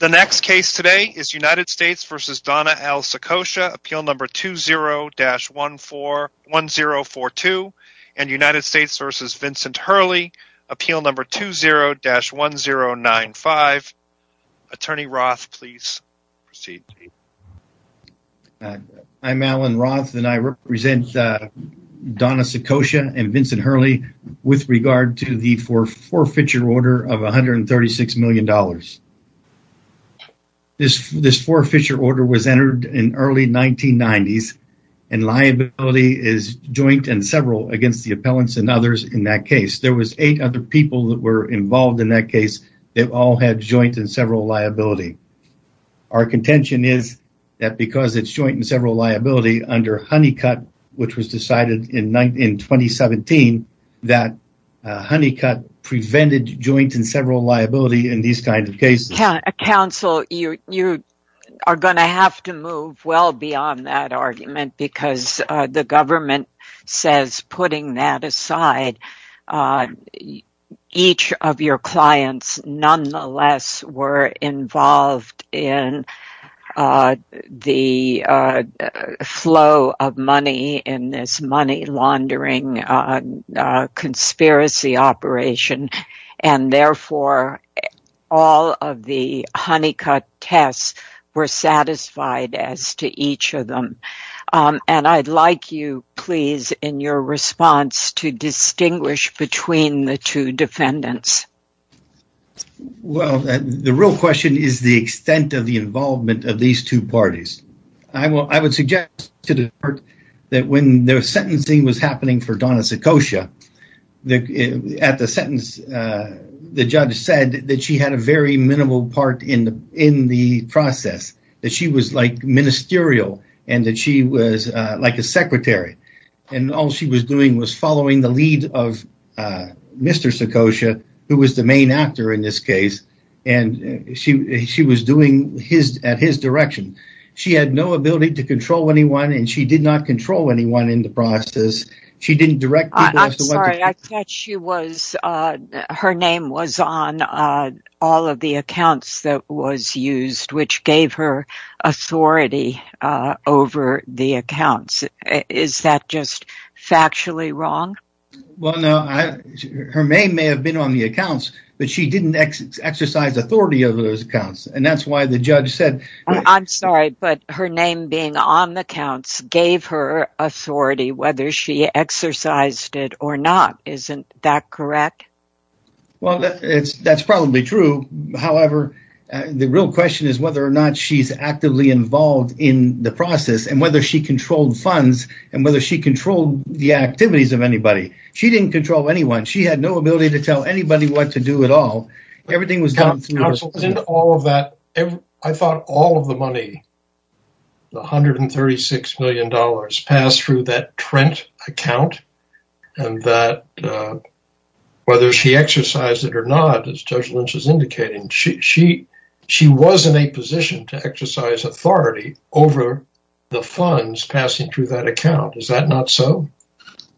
The next case today is United States v. Donna L. Saccoccia, Appeal No. 20-1042, and United States v. Vincent Hurley, Appeal No. 20-1095. Attorney Roth, please proceed. I'm Alan Roth, and I represent Donna Saccoccia and Vincent Hurley with regard to the forfeiture order of $136 million. This forfeiture order was entered in early 1990s, and liability is joint and several against the appellants and others in that case. There was eight other people that were involved in that case that all had joint and several liability. Our contention is that because it's joint and several liability under Honeycutt, which was decided in 2017, Honeycutt prevented joint and several liability in these kinds of cases. Counsel, you are going to have to move well beyond that argument because the government says, putting that aside, each of your clients nonetheless were involved in the flow of money in this money laundering conspiracy operation, and therefore, all of the Honeycutt tests were satisfied as to each of them. I'd like you, please, in your response to distinguish between the two defendants. Well, the real question is the extent of the involvement of these two parties. I would suggest to the court that when the sentencing was happening for Donna Saccoccia, at the sentence, the judge said that she had a very minimal part in the process, that she was like ministerial and that she was like a secretary. All she was doing was following the lead of Mr. Actor in this case, and she was doing it at his direction. She had no ability to control anyone, and she did not control anyone in the process. I'm sorry, I thought her name was on all of the accounts that was used, which gave her authority over the accounts. Is that just factually wrong? Well, no. Her name may have been on the accounts, but she didn't exercise authority over those accounts, and that's why the judge said... I'm sorry, but her name being on the accounts gave her authority, whether she exercised it or not. Isn't that correct? Well, that's probably true. However, the real question is whether or not she's actively involved in the process, and whether she controlled funds, and whether she controlled the activities of anybody. She didn't control anyone. She had no ability to tell anybody what to do at all. Everything was done through her. I thought all of the money, the $136 million, passed through that Trent account, and that whether she exercised it or not, as Judge Lynch is indicating, she was in a position to exercise authority over the funds passing through that account. Is that not so?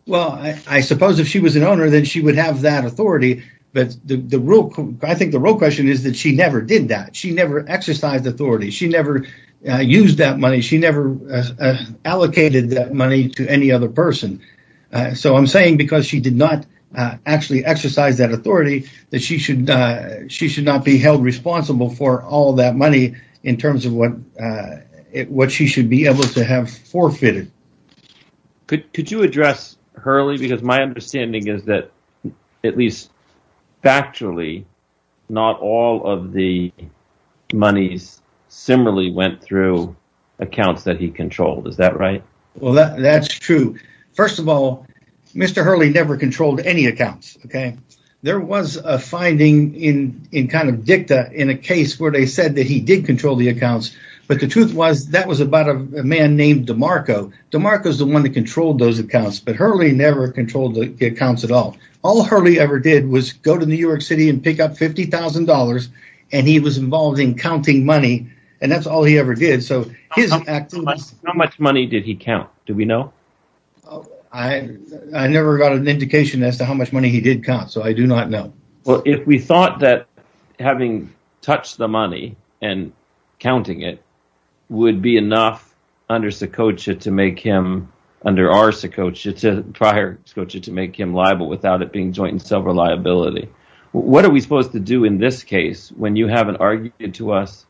Well, I suppose if she was an owner, then she would have that authority, but I think the real question is that she never did that. She never exercised authority. She never used that money. She never allocated that money to any other person. So I'm saying because she did not actually exercise that authority, that she should not be held responsible for all that money in terms of what she should be able to have forfeited. Could you address Hurley? Because my understanding is that, at least factually, not all of the monies similarly went through accounts that he controlled. Is that right? Well, that's true. First of all, Mr. Hurley never controlled the accounts, but the truth was that was about a man named DeMarco. DeMarco's the one that controlled those accounts, but Hurley never controlled the accounts at all. All Hurley ever did was go to New York City and pick up $50,000, and he was involved in counting money, and that's all he ever did. How much money did he count? Do we know? I never got an indication as to how much money and counting it would be enough under our Sokocha to make him liable without it being joint in silver liability. What are we supposed to do in this case when you haven't argued to us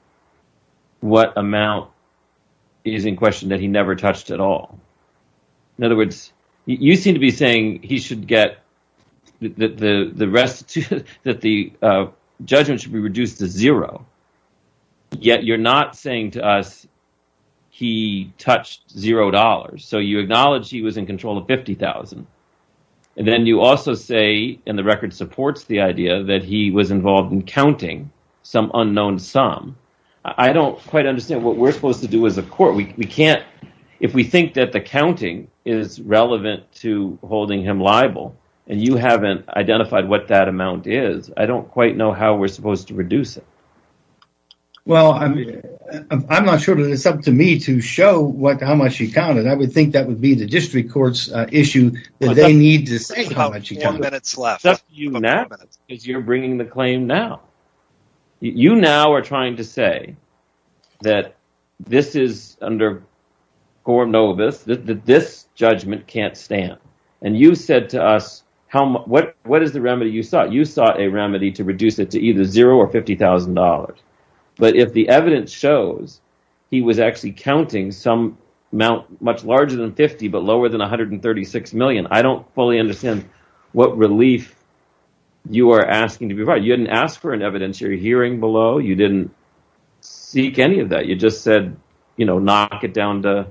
what amount is in question that he never touched at all? In other words, you seem to be saying he should get the rest, that the judgment should be reduced to zero, yet you're not saying to us he touched $0, so you acknowledge he was in control of $50,000. Then you also say, and the record supports the idea, that he was involved in counting some unknown sum. I don't quite understand what we're supposed to do as a court. If we think that the counting is relevant to holding him liable, and you haven't identified what that amount is, I don't quite know how we're supposed to reduce it. I'm not sure that it's up to me to show how much he counted. I would think that would be the district court's issue. You're bringing the claim now. You now are trying to say that this judgment can't stand. You said to us, what is the remedy you sought? You sought a remedy to reduce it to either zero or $50,000, but if the evidence shows he was actually counting much larger than $50,000, but lower than $136 million, I don't fully understand what relief you are asking to provide. You didn't ask for an evidence you're hearing below. You didn't seek any of that. You just said, knock it down to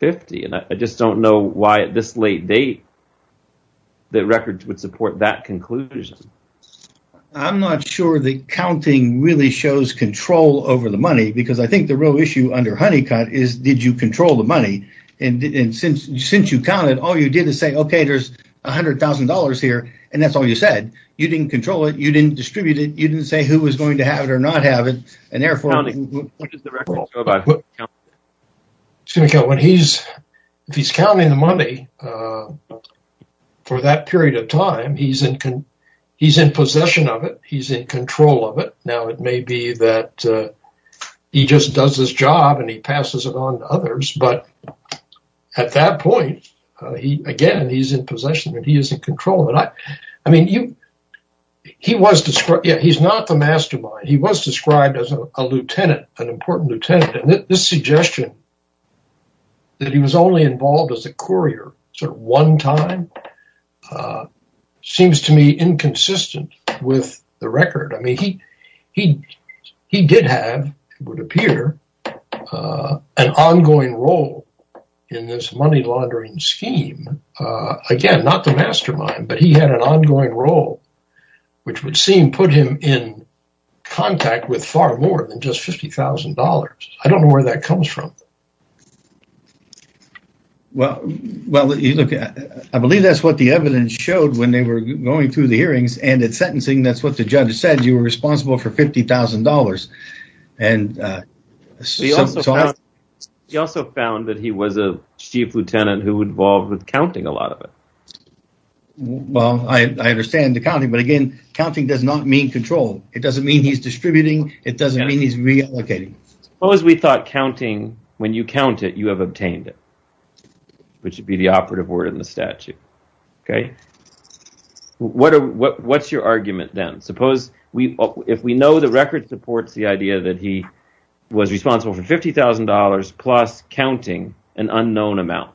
$50,000. I just don't know why, at this late date, the record would support that conclusion. I'm not sure the counting really shows control over the money, because I think the real issue under Honeycutt is, did you control the money? Since you counted, all you did was say, okay, there's $100,000 here, and that's all you said. You didn't control it. You didn't distribute it. You didn't say who was going to have it or not have it. Therefore, what is the record? If he's counting the money for that period of time, he's in possession of it. He's in control of it. Now, it may be that he just does his job and he passes it on to others, but at that point, again, he's in possession of it. He's not the mastermind. He was described as a lieutenant, an important lieutenant. This suggestion that he was only involved as a courier one time seems to me inconsistent with the record. He did have, it would appear, an ongoing role in this money laundering scheme. Again, not the mastermind, but he had an ongoing role, which would seem put him in contact with far more than just $50,000. I don't know where that comes from. Well, I believe that's what the evidence showed when they were going through the hearings and at sentencing. That's what the judge said. You were responsible for $50,000. He also found that he was a chief lieutenant who was involved with counting a lot of it. Well, I understand the counting, but again, counting does not mean control. It doesn't mean he's distributing. It doesn't mean he's reallocating. Suppose we thought counting, when you count it, you have obtained it, which would be the operative word in the statute. What's your argument then? If we know the record supports the idea that he was responsible for $50,000 plus counting an unknown amount,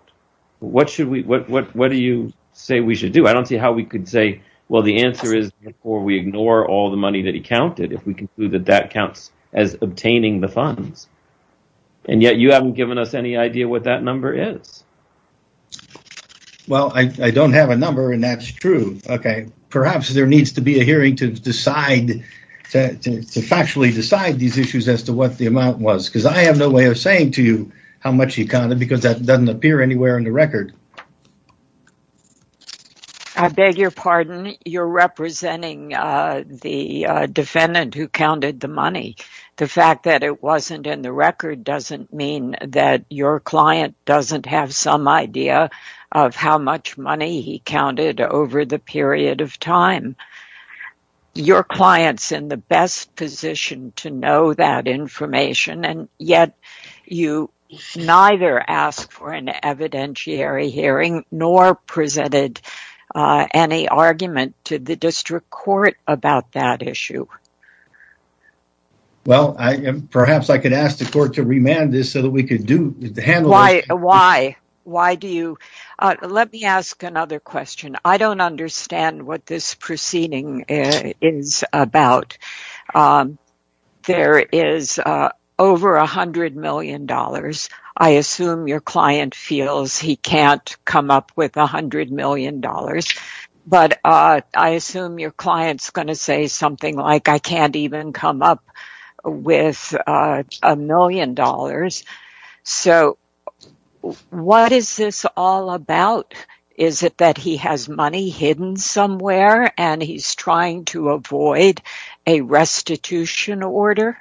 what do you say we should do? I don't see how we could say, well, the answer is before we ignore all the money that he counted, if we conclude that that counts as obtaining the funds, and yet you haven't given us any is. Well, I don't have a number and that's true. Okay. Perhaps there needs to be a hearing to factually decide these issues as to what the amount was, because I have no way of saying to you how much he counted because that doesn't appear anywhere in the record. I beg your pardon. You're representing the defendant who counted the money. The fact that it wasn't in the record doesn't mean that your client doesn't have some idea of how much money he counted over the period of time. Your client's in the best position to know that information and yet you neither asked for an evidentiary hearing nor presented any argument to the district court about that issue. Well, perhaps I could ask the court to remand this so that we could handle this. Why? Why do you? Let me ask another question. I don't understand what this proceeding is about. There is over $100 million. I assume your client feels he can't come up with $100 million, but I assume your client's going to say something like, I can't even come up with $1 million. What is this all about? Is it that he has money hidden somewhere and he's trying to avoid a restitution order?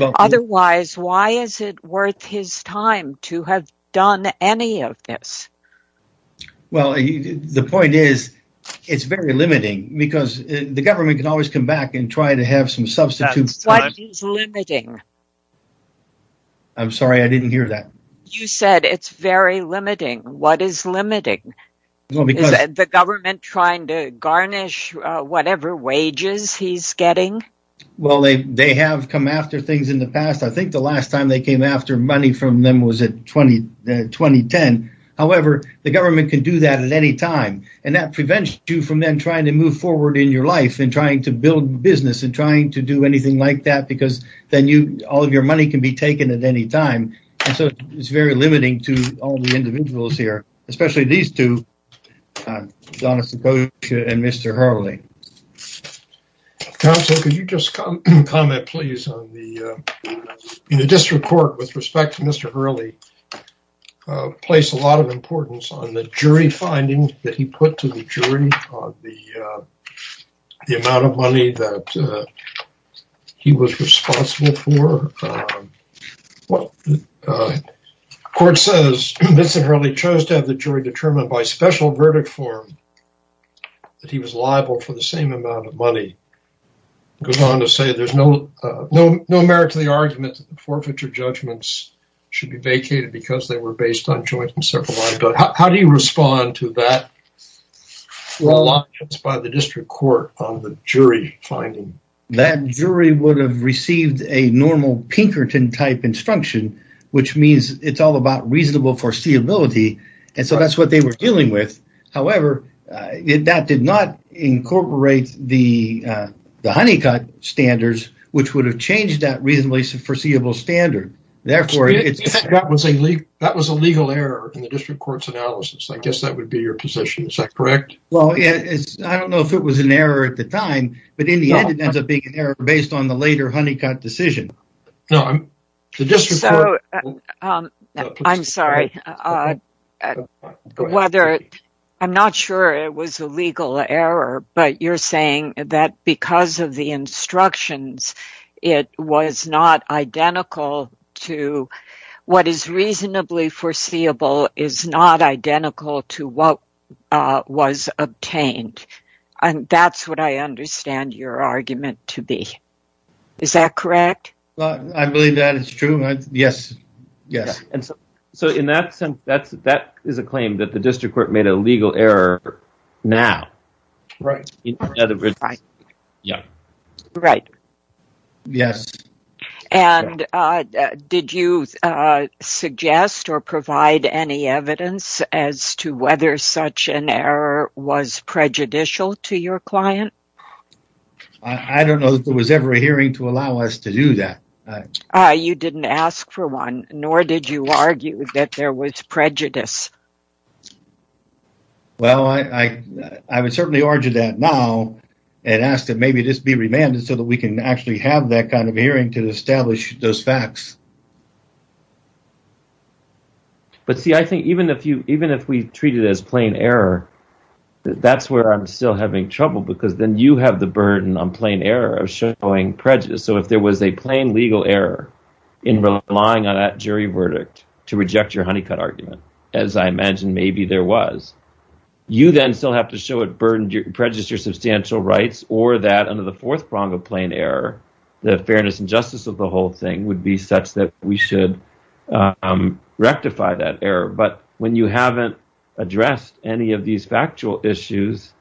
Otherwise, why is it worth his time to have any of this? Well, the point is it's very limiting because the government can always come back and try to have some substitutes. What is limiting? I'm sorry, I didn't hear that. You said it's very limiting. What is limiting? Is the government trying to garnish whatever wages he's getting? Well, they have come after things in the past. I think the last time they came after money from them was in 2010. However, the government can do that at any time. That prevents you from then trying to move forward in your life and trying to build business and trying to do anything like that because then all of your money can be taken at any time. It's very limiting to all the individuals here, especially these two, Donna Sikosha and Mr. Hurley. Counsel, could you just comment please on the district court with respect to Mr. Hurley placed a lot of importance on the jury findings that he put to the jury on the amount of money that he was responsible for. The court says Mr. Hurley chose to have the jury determined by special verdict form that he was liable for the same amount of money. It goes on to say there's no merit to the argument that the forfeiture judgments should be vacated because they were based on joint and separate liability. How do you respond to that reliance by the district court on the jury finding? That jury would have received a normal Pinkerton-type instruction, which means it's all about reasonable foreseeability, and so that's what they were dealing with. However, that did not incorporate the Honeycutt standards, which would have changed that reasonably foreseeable standard. That was a legal error in the district court's analysis. I guess that would be your position. Is that correct? I don't know if it was an error at the time, but in the end, it ends up being error based on the later Honeycutt decision. I'm sorry. I'm not sure it was a legal error, but you're saying that because of the instructions, what is reasonably foreseeable is not identical to what was obtained. That's what I understand your argument to be. Is that correct? I believe that it's true. Yes. In that sense, that is a claim that the district court made a legal error now. Did you suggest or provide any evidence as to whether such an error was prejudicial to your client? I don't know if there was ever a hearing to allow us to do that. You didn't ask for one, nor did you argue that there was prejudice. Well, I would certainly urge that now and ask that maybe this be remanded so that we can actually have that kind of hearing to establish those facts. But see, I think even if we treat it as trouble, because then you have the burden on plain error of showing prejudice. If there was a plain legal error in relying on that jury verdict to reject your Honeycutt argument, as I imagine maybe there was, you then still have to show it prejudiced your substantial rights or that under the fourth prong of plain error, the fairness and justice of the whole thing would be such that we should rectify that error. But when you haven't addressed any of these factual issues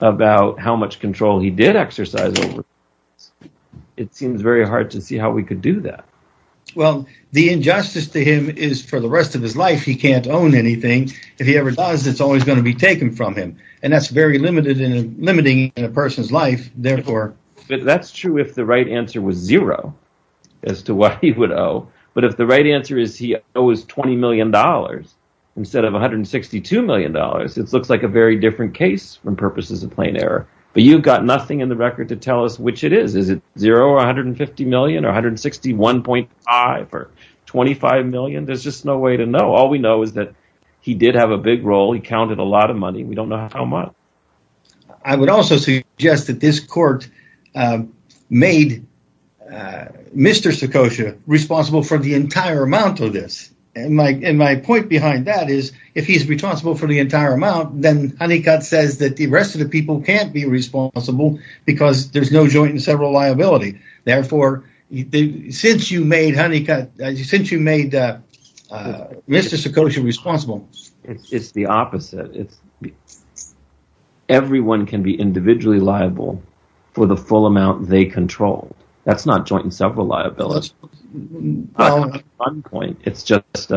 about how much control he did exercise, it seems very hard to see how we could do that. Well, the injustice to him is for the rest of his life he can't own anything. If he ever does, it's always going to be taken from him and that's very limiting in a person's life. That's true if the right answer was zero as to what he would owe, but if the right answer is he plain error. But you've got nothing in the record to tell us which it is. Is it zero or 150 million or 161.5 or 25 million? There's just no way to know. All we know is that he did have a big role. He counted a lot of money. We don't know how much. I would also suggest that this court made Mr. Sikosha responsible for the entire amount of this. My point behind that is if he's responsible for the entire amount, then Honeycutt says that the rest of the people can't be responsible because there's no joint and several liability. Therefore, since you made Mr. Sikosha responsible. It's the opposite. Everyone can be individually liable for the full amount they control. That's not joint and several liability. It's just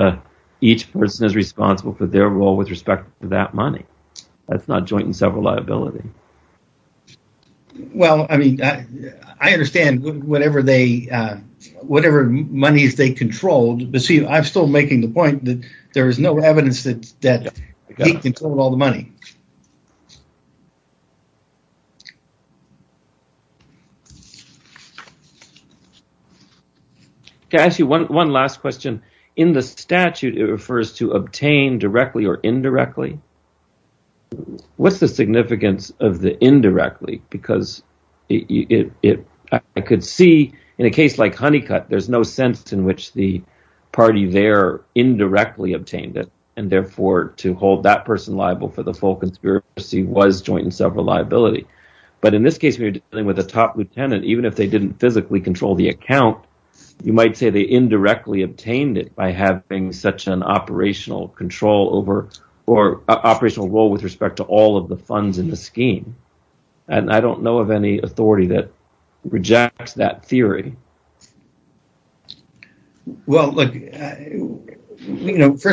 each person is responsible for their role with respect to that money. That's not joint and several liability. I understand whatever money they controlled, but I'm still making the point that there's no evidence that he controlled all the money. I have one last question. In the statute, it refers to obtain directly or indirectly. What's the significance of the indirectly? I could see in a case like Honeycutt, there's no sense in which the party there indirectly obtained it. Therefore, to hold that person liable for the full conspiracy was joint and several liability. In this case, we're dealing with a top lieutenant. Even if they didn't physically control the account, you might say they indirectly obtained it by having such an operational role with respect to all of the funds in the scheme. I don't know of any authority that rejects that theory. First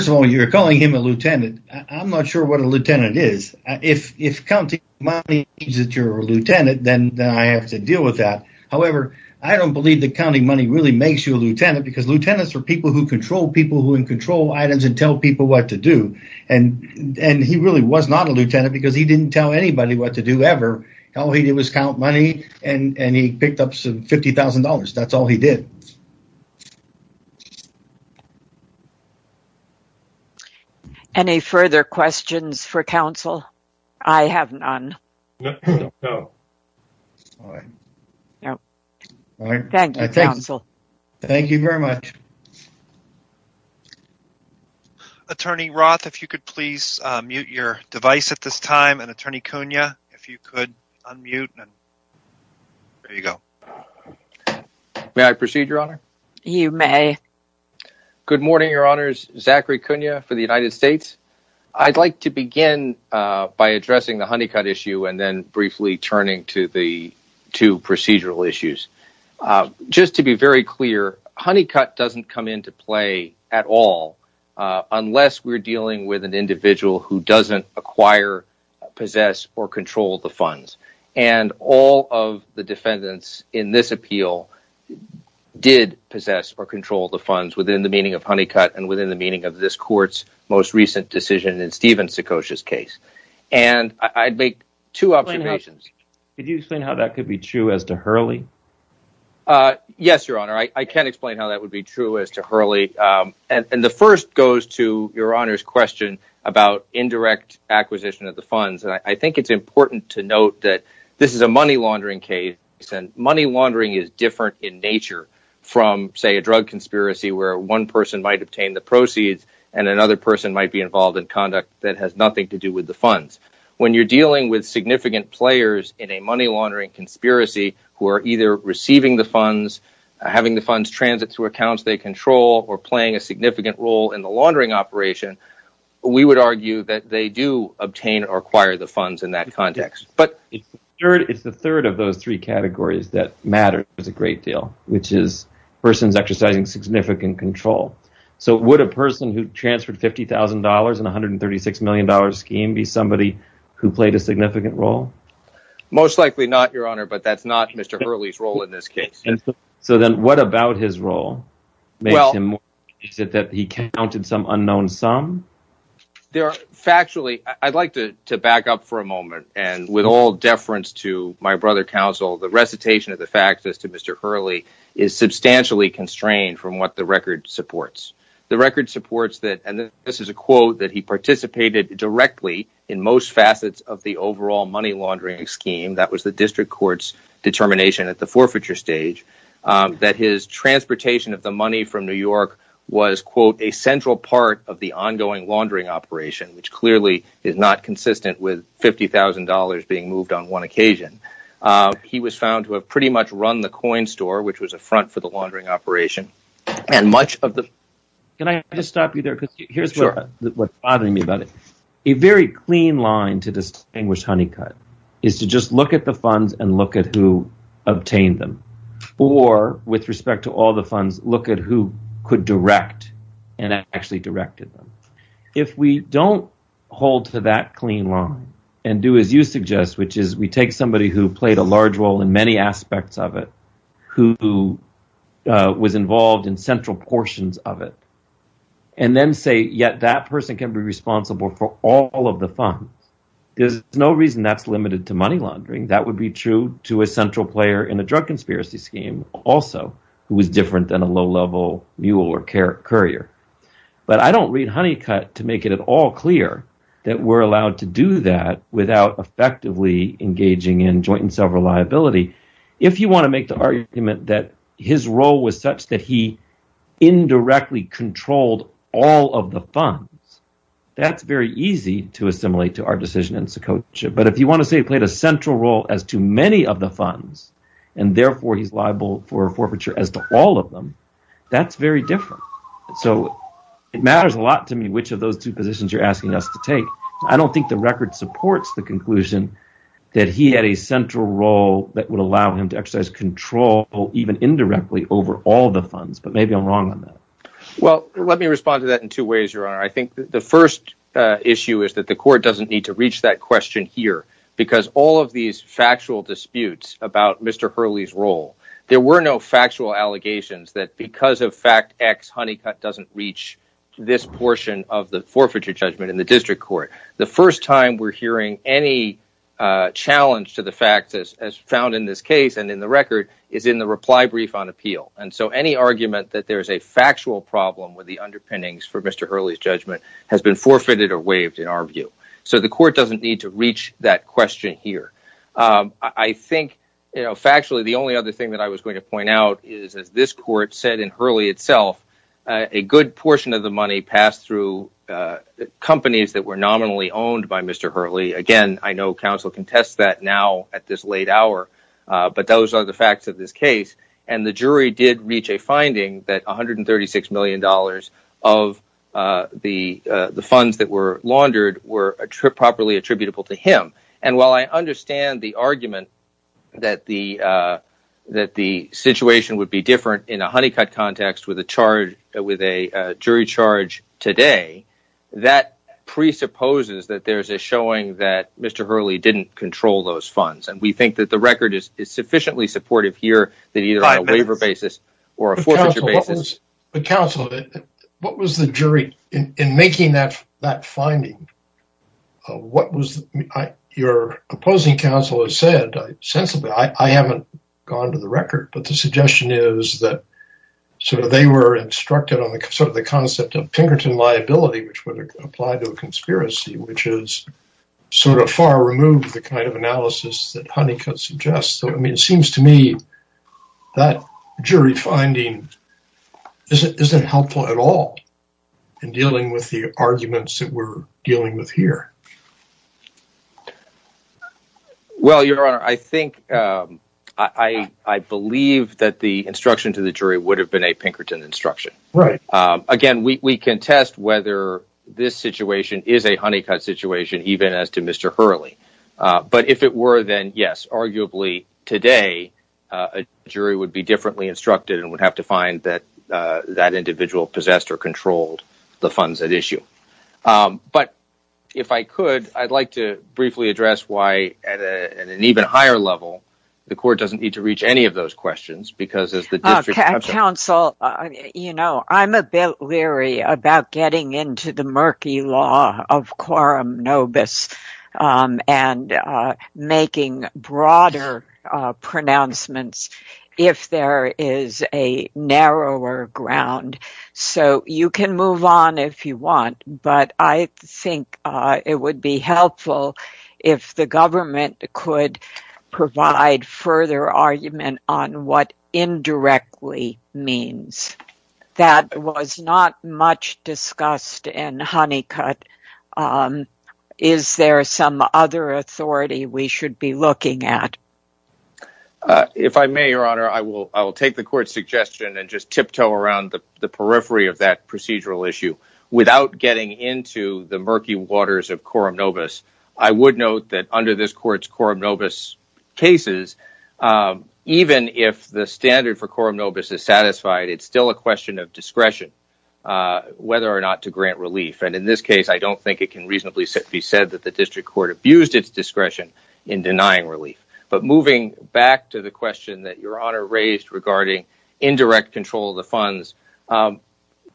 of all, you're calling him a lieutenant. I'm not sure what a lieutenant is. If counting money means that you're a lieutenant, then I have to deal with that. However, I don't believe that counting money really makes you a lieutenant because lieutenants are people who control people who can control items and tell people what to do. He really was not a lieutenant because he was counting money and he picked up some $50,000. That's all he did. Any further questions for counsel? I have none. No. Thank you, counsel. Thank you very much. Attorney Roth, if you could please mute your device at this time. Attorney Cunha, if you could unmute. There you go. May I proceed, Your Honor? You may. Good morning, Your Honors. Zachary Cunha for the United States. I'd like to begin by addressing the Honeycutt issue and then briefly turning to the two procedural issues. Just to be very clear, Honeycutt doesn't come into play at all unless we're dealing with an indirect acquisition of the funds. All of the defendants in this appeal did possess or control the funds within the meaning of Honeycutt and within the meaning of this Court's most recent decision in Stephen Sikosha's case. I'd make two observations. Could you explain how that could be true as to Hurley? Yes, Your Honor. I can explain how that would be true as to Hurley. The first goes to Your Honor. This is a money laundering case and money laundering is different in nature from, say, a drug conspiracy where one person might obtain the proceeds and another person might be involved in conduct that has nothing to do with the funds. When you're dealing with significant players in a money laundering conspiracy who are either receiving the funds, having the funds transit to accounts they control or playing a significant role in the laundering operation, we would argue that they do obtain or acquire the funds in that context. It's the third of those three categories that matters a great deal, which is persons exercising significant control. Would a person who transferred $50,000 in a $136 million scheme be somebody who played a significant role? Most likely not, Your Honor, but that's not Mr. Hurley's role in this case. What about his role? Is it that he counted some unknown sum? I'd like to back up for a moment. With all deference to my brother counsel, the recitation of the facts as to Mr. Hurley is substantially constrained from what the record supports. The record supports that, and this is a quote, that he participated directly in most facets of the overall money laundering scheme. That was the district court's forfeiture stage, that his transportation of the money from New York was a central part of the ongoing laundering operation, which clearly is not consistent with $50,000 being moved on one occasion. He was found to have pretty much run the coin store, which was a front for the laundering operation. A very clean line to distinguish Honeycutt is to just look at the or, with respect to all the funds, look at who could direct and actually directed them. If we don't hold to that clean line and do as you suggest, which is we take somebody who played a large role in many aspects of it, who was involved in central portions of it, and then say, yet that person can be responsible for all of the funds, there's no reason that's limited to money laundering. That would be true to a central player in the drug conspiracy scheme also, who was different than a low-level mule or carrier. I don't read Honeycutt to make it all clear that we're allowed to do that without effectively engaging in joint and several liability. If you want to make the argument that his role was such that he indirectly controlled all of the funds, that's very easy to the funds and therefore he's liable for forfeiture as to all of them, that's very different. It matters a lot to me which of those two positions you're asking us to take. I don't think the record supports the conclusion that he had a central role that would allow him to exercise control even indirectly over all the funds, but maybe I'm wrong on that. Let me respond to that in two ways. The first issue is that the court doesn't need to reach that question here because all of these factual disputes about Mr. Hurley's role, there were no factual allegations that because of fact X, Honeycutt doesn't reach this portion of the forfeiture judgment in the district court. The first time we're hearing any challenge to the facts as found in this case and in the record is in the reply brief on appeal. Any argument that there's a factual problem with the underpinnings for Mr. Hurley's judgment has been forfeited or to reach that question here. I think factually the only other thing that I was going to point out is as this court said in Hurley itself, a good portion of the money passed through companies that were nominally owned by Mr. Hurley. Again, I know counsel can test that now at this late hour, but those are the facts of this case and the jury did reach a finding that $136 million of the funds that were laundered were properly attributable to him. While I understand the argument that the situation would be different in a Honeycutt context with a jury charge today, that presupposes that there's a showing that Mr. Hurley didn't control those funds and we think that the record is sufficiently supportive here that either on a waiver basis or a forfeiture basis. But counsel, what was the jury in making that finding? Your opposing counsel has said sensibly, I haven't gone to the record, but the suggestion is that they were instructed on the concept of Pinkerton liability, which would apply to a conspiracy, which is far removed the kind of analysis that Honeycutt suggests. So I mean, it seems to me that jury finding isn't helpful at all in dealing with the arguments that we're dealing with here. Well, your honor, I think, I believe that the instruction to the jury would have been a Pinkerton instruction. Again, we can test whether this situation is a Honeycutt situation, even as Mr. Hurley. But if it were, then yes, arguably today, a jury would be differently instructed and would have to find that that individual possessed or controlled the funds at issue. But if I could, I'd like to briefly address why at an even higher level, the court doesn't need to reach any of those questions because as the district counsel, you know, I'm a bit leery about getting into the murky law of quorum nobis and making broader pronouncements if there is a narrower ground. So you can move on if you want, but I think it would be helpful if the government could provide further argument on what indirectly means. That was not much discussed in Honeycutt. Is there some other authority we should be looking at? If I may, your honor, I will take the court's suggestion and just tiptoe around the periphery of that procedural issue without getting into the murky waters of quorum nobis. I would note that under this court's quorum nobis cases, even if the standard for quorum nobis is discretion, whether or not to grant relief, and in this case, I don't think it can reasonably be said that the district court abused its discretion in denying relief. But moving back to the question that your honor raised regarding indirect control of the funds,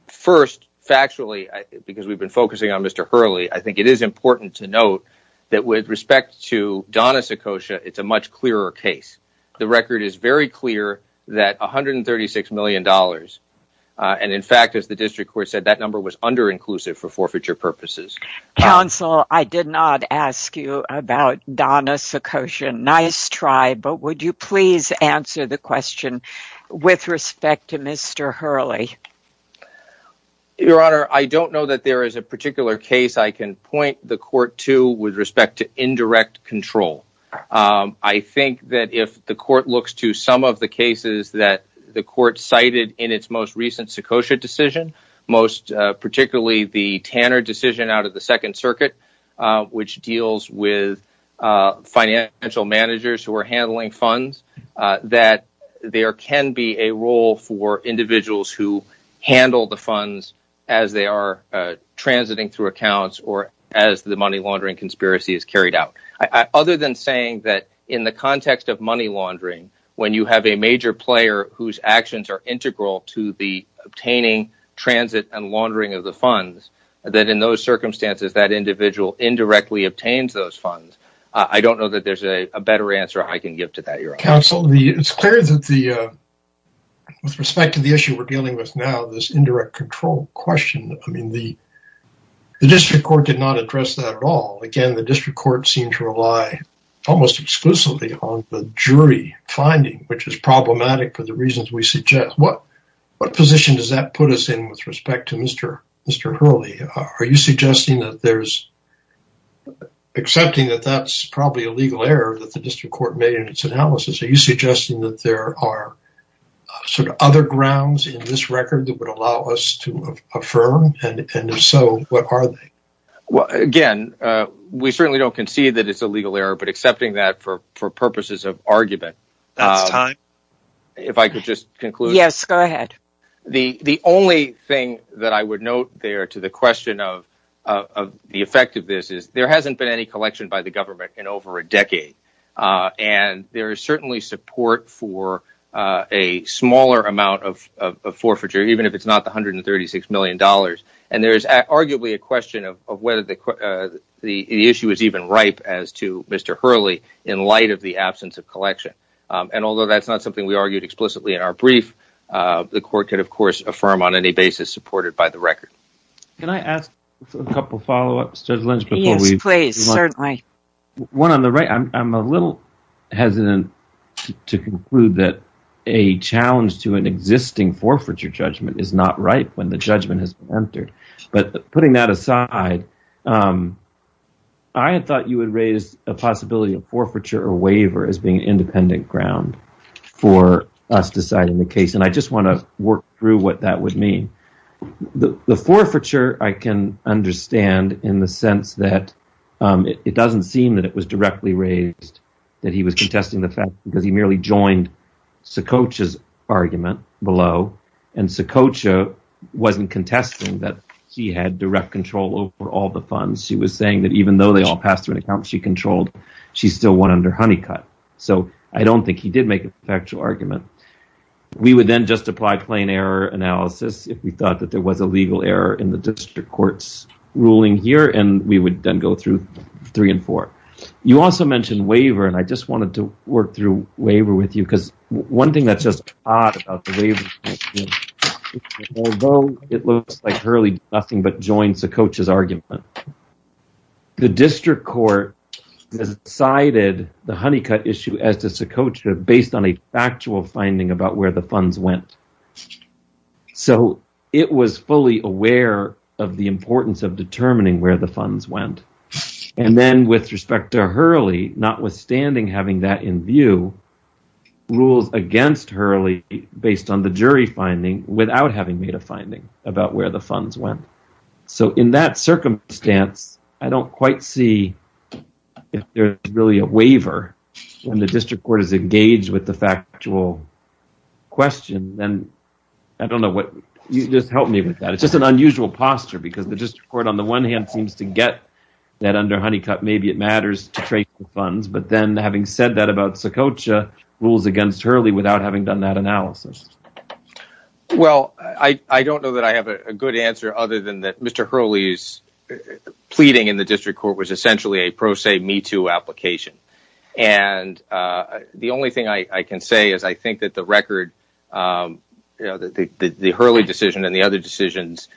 first, factually, because we've been focusing on Mr. Hurley, I think it is important to note that with respect to Donna Sikosha, I can point the court to with respect to indirect control. I think that if the court looks to some of the cases that the court cited in its most recent Sikosha decision, most particularly the Tanner decision out of the Second Circuit, which deals with financial managers who are handling funds, that there can be a role for individuals who handle the funds as they are transiting through accounts or as the money laundering conspiracy is carried out. Other than saying that in the context of money laundering, when you have a major player whose actions are integral to the obtaining, transit, and laundering of the funds, that in those circumstances that individual indirectly obtains those funds, I don't know that there's a better answer I can give to that, your honor. Counsel, it's clear that with respect to the issue we're dealing with now, this indirect control question, the district court did not address that at all. Again, the district court seemed to rely almost exclusively on the jury finding, which is problematic for the reasons we suggest. What position does that put us in with respect to Mr. Hurley? Are you suggesting that there's, accepting that that's probably a legal error that the district court made in its analysis, are you suggesting that there are sort of other grounds in this We certainly don't concede that it's a legal error, but accepting that for purposes of argument, the only thing that I would note there to the question of the effect of this is there hasn't been any collection by the government in over a decade, and there is certainly support for a smaller amount of forfeiture, even if it's not the $136 million, and there's arguably a question of whether the issue is even ripe as to Mr. Hurley in light of the absence of collection, and although that's not something we argued explicitly in our brief, the court could, of course, affirm on any basis supported by the record. Can I ask a couple follow-ups, Judge Lynch? Yes, please, certainly. One on the right, I'm a little hesitant to conclude that a challenge to an existing forfeiture judgment is not ripe when the judgment has been entered, but putting that aside, I had thought you would raise a possibility of forfeiture or waiver as being an independent ground for us deciding the case, and I just want to work through what that would mean. The forfeiture, I can understand in the sense that it doesn't seem that it was directly raised, that he was contesting the fact because he merely joined Sokocha's argument below, and Sokocha wasn't contesting that he had direct control over all the funds. She was saying that even though they all passed through an account she controlled, she still won under Honeycutt, so I don't think he did make a factual argument. We would then just apply plain error analysis if we thought that there was a legal error in the district court's ruling here, and we would then go through three and four. You also mentioned waiver, and I just wanted to work through waiver with you because one thing that's just odd about the waiver is that although it looks like Hurley did nothing but join Sokocha's argument, the district court decided the Honeycutt issue as to Sokocha based on a factual finding about where the funds went, so it was fully aware of the importance of determining where the funds went, and then with respect to Hurley, notwithstanding having that in view, rules against Hurley based on the jury finding without having made a finding about where the funds went, so in that circumstance, I don't quite see if there's really a waiver when the district court is engaged with the factual question, and I don't know what you just helped me with that. It's just an unusual posture because the district court, on the one hand, seems to get that under Honeycutt. Maybe it matters to trace the funds, but then having said that about Sokocha, rules against Hurley without having done that analysis. Well, I don't know that I have a good answer other than that Mr. Hurley's pleading in the district court was essentially a pro se, me too application, and the only thing I can say is I think that the Hurley decision and the other decisions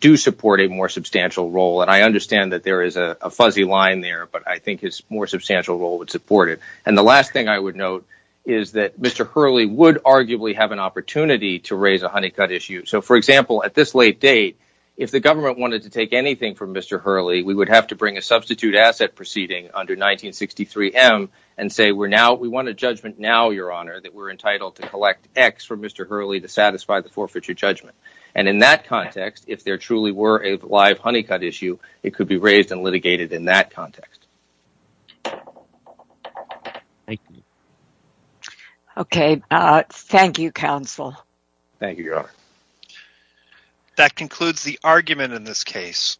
do support a more substantial role, and I understand that there is a fuzzy line there, but I think his more substantial role would support it, and the last thing I would note is that Mr. Hurley would arguably have an opportunity to raise a Honeycutt issue, so for example, at this late date, if the government wanted to take anything from Mr. Hurley, and say we want a judgment now, Your Honor, that we're entitled to collect X for Mr. Hurley to satisfy the forfeiture judgment, and in that context, if there truly were a live Honeycutt issue, it could be raised and litigated in that context. Okay, thank you, counsel. Thank you, Your Honor. That concludes the argument in this case.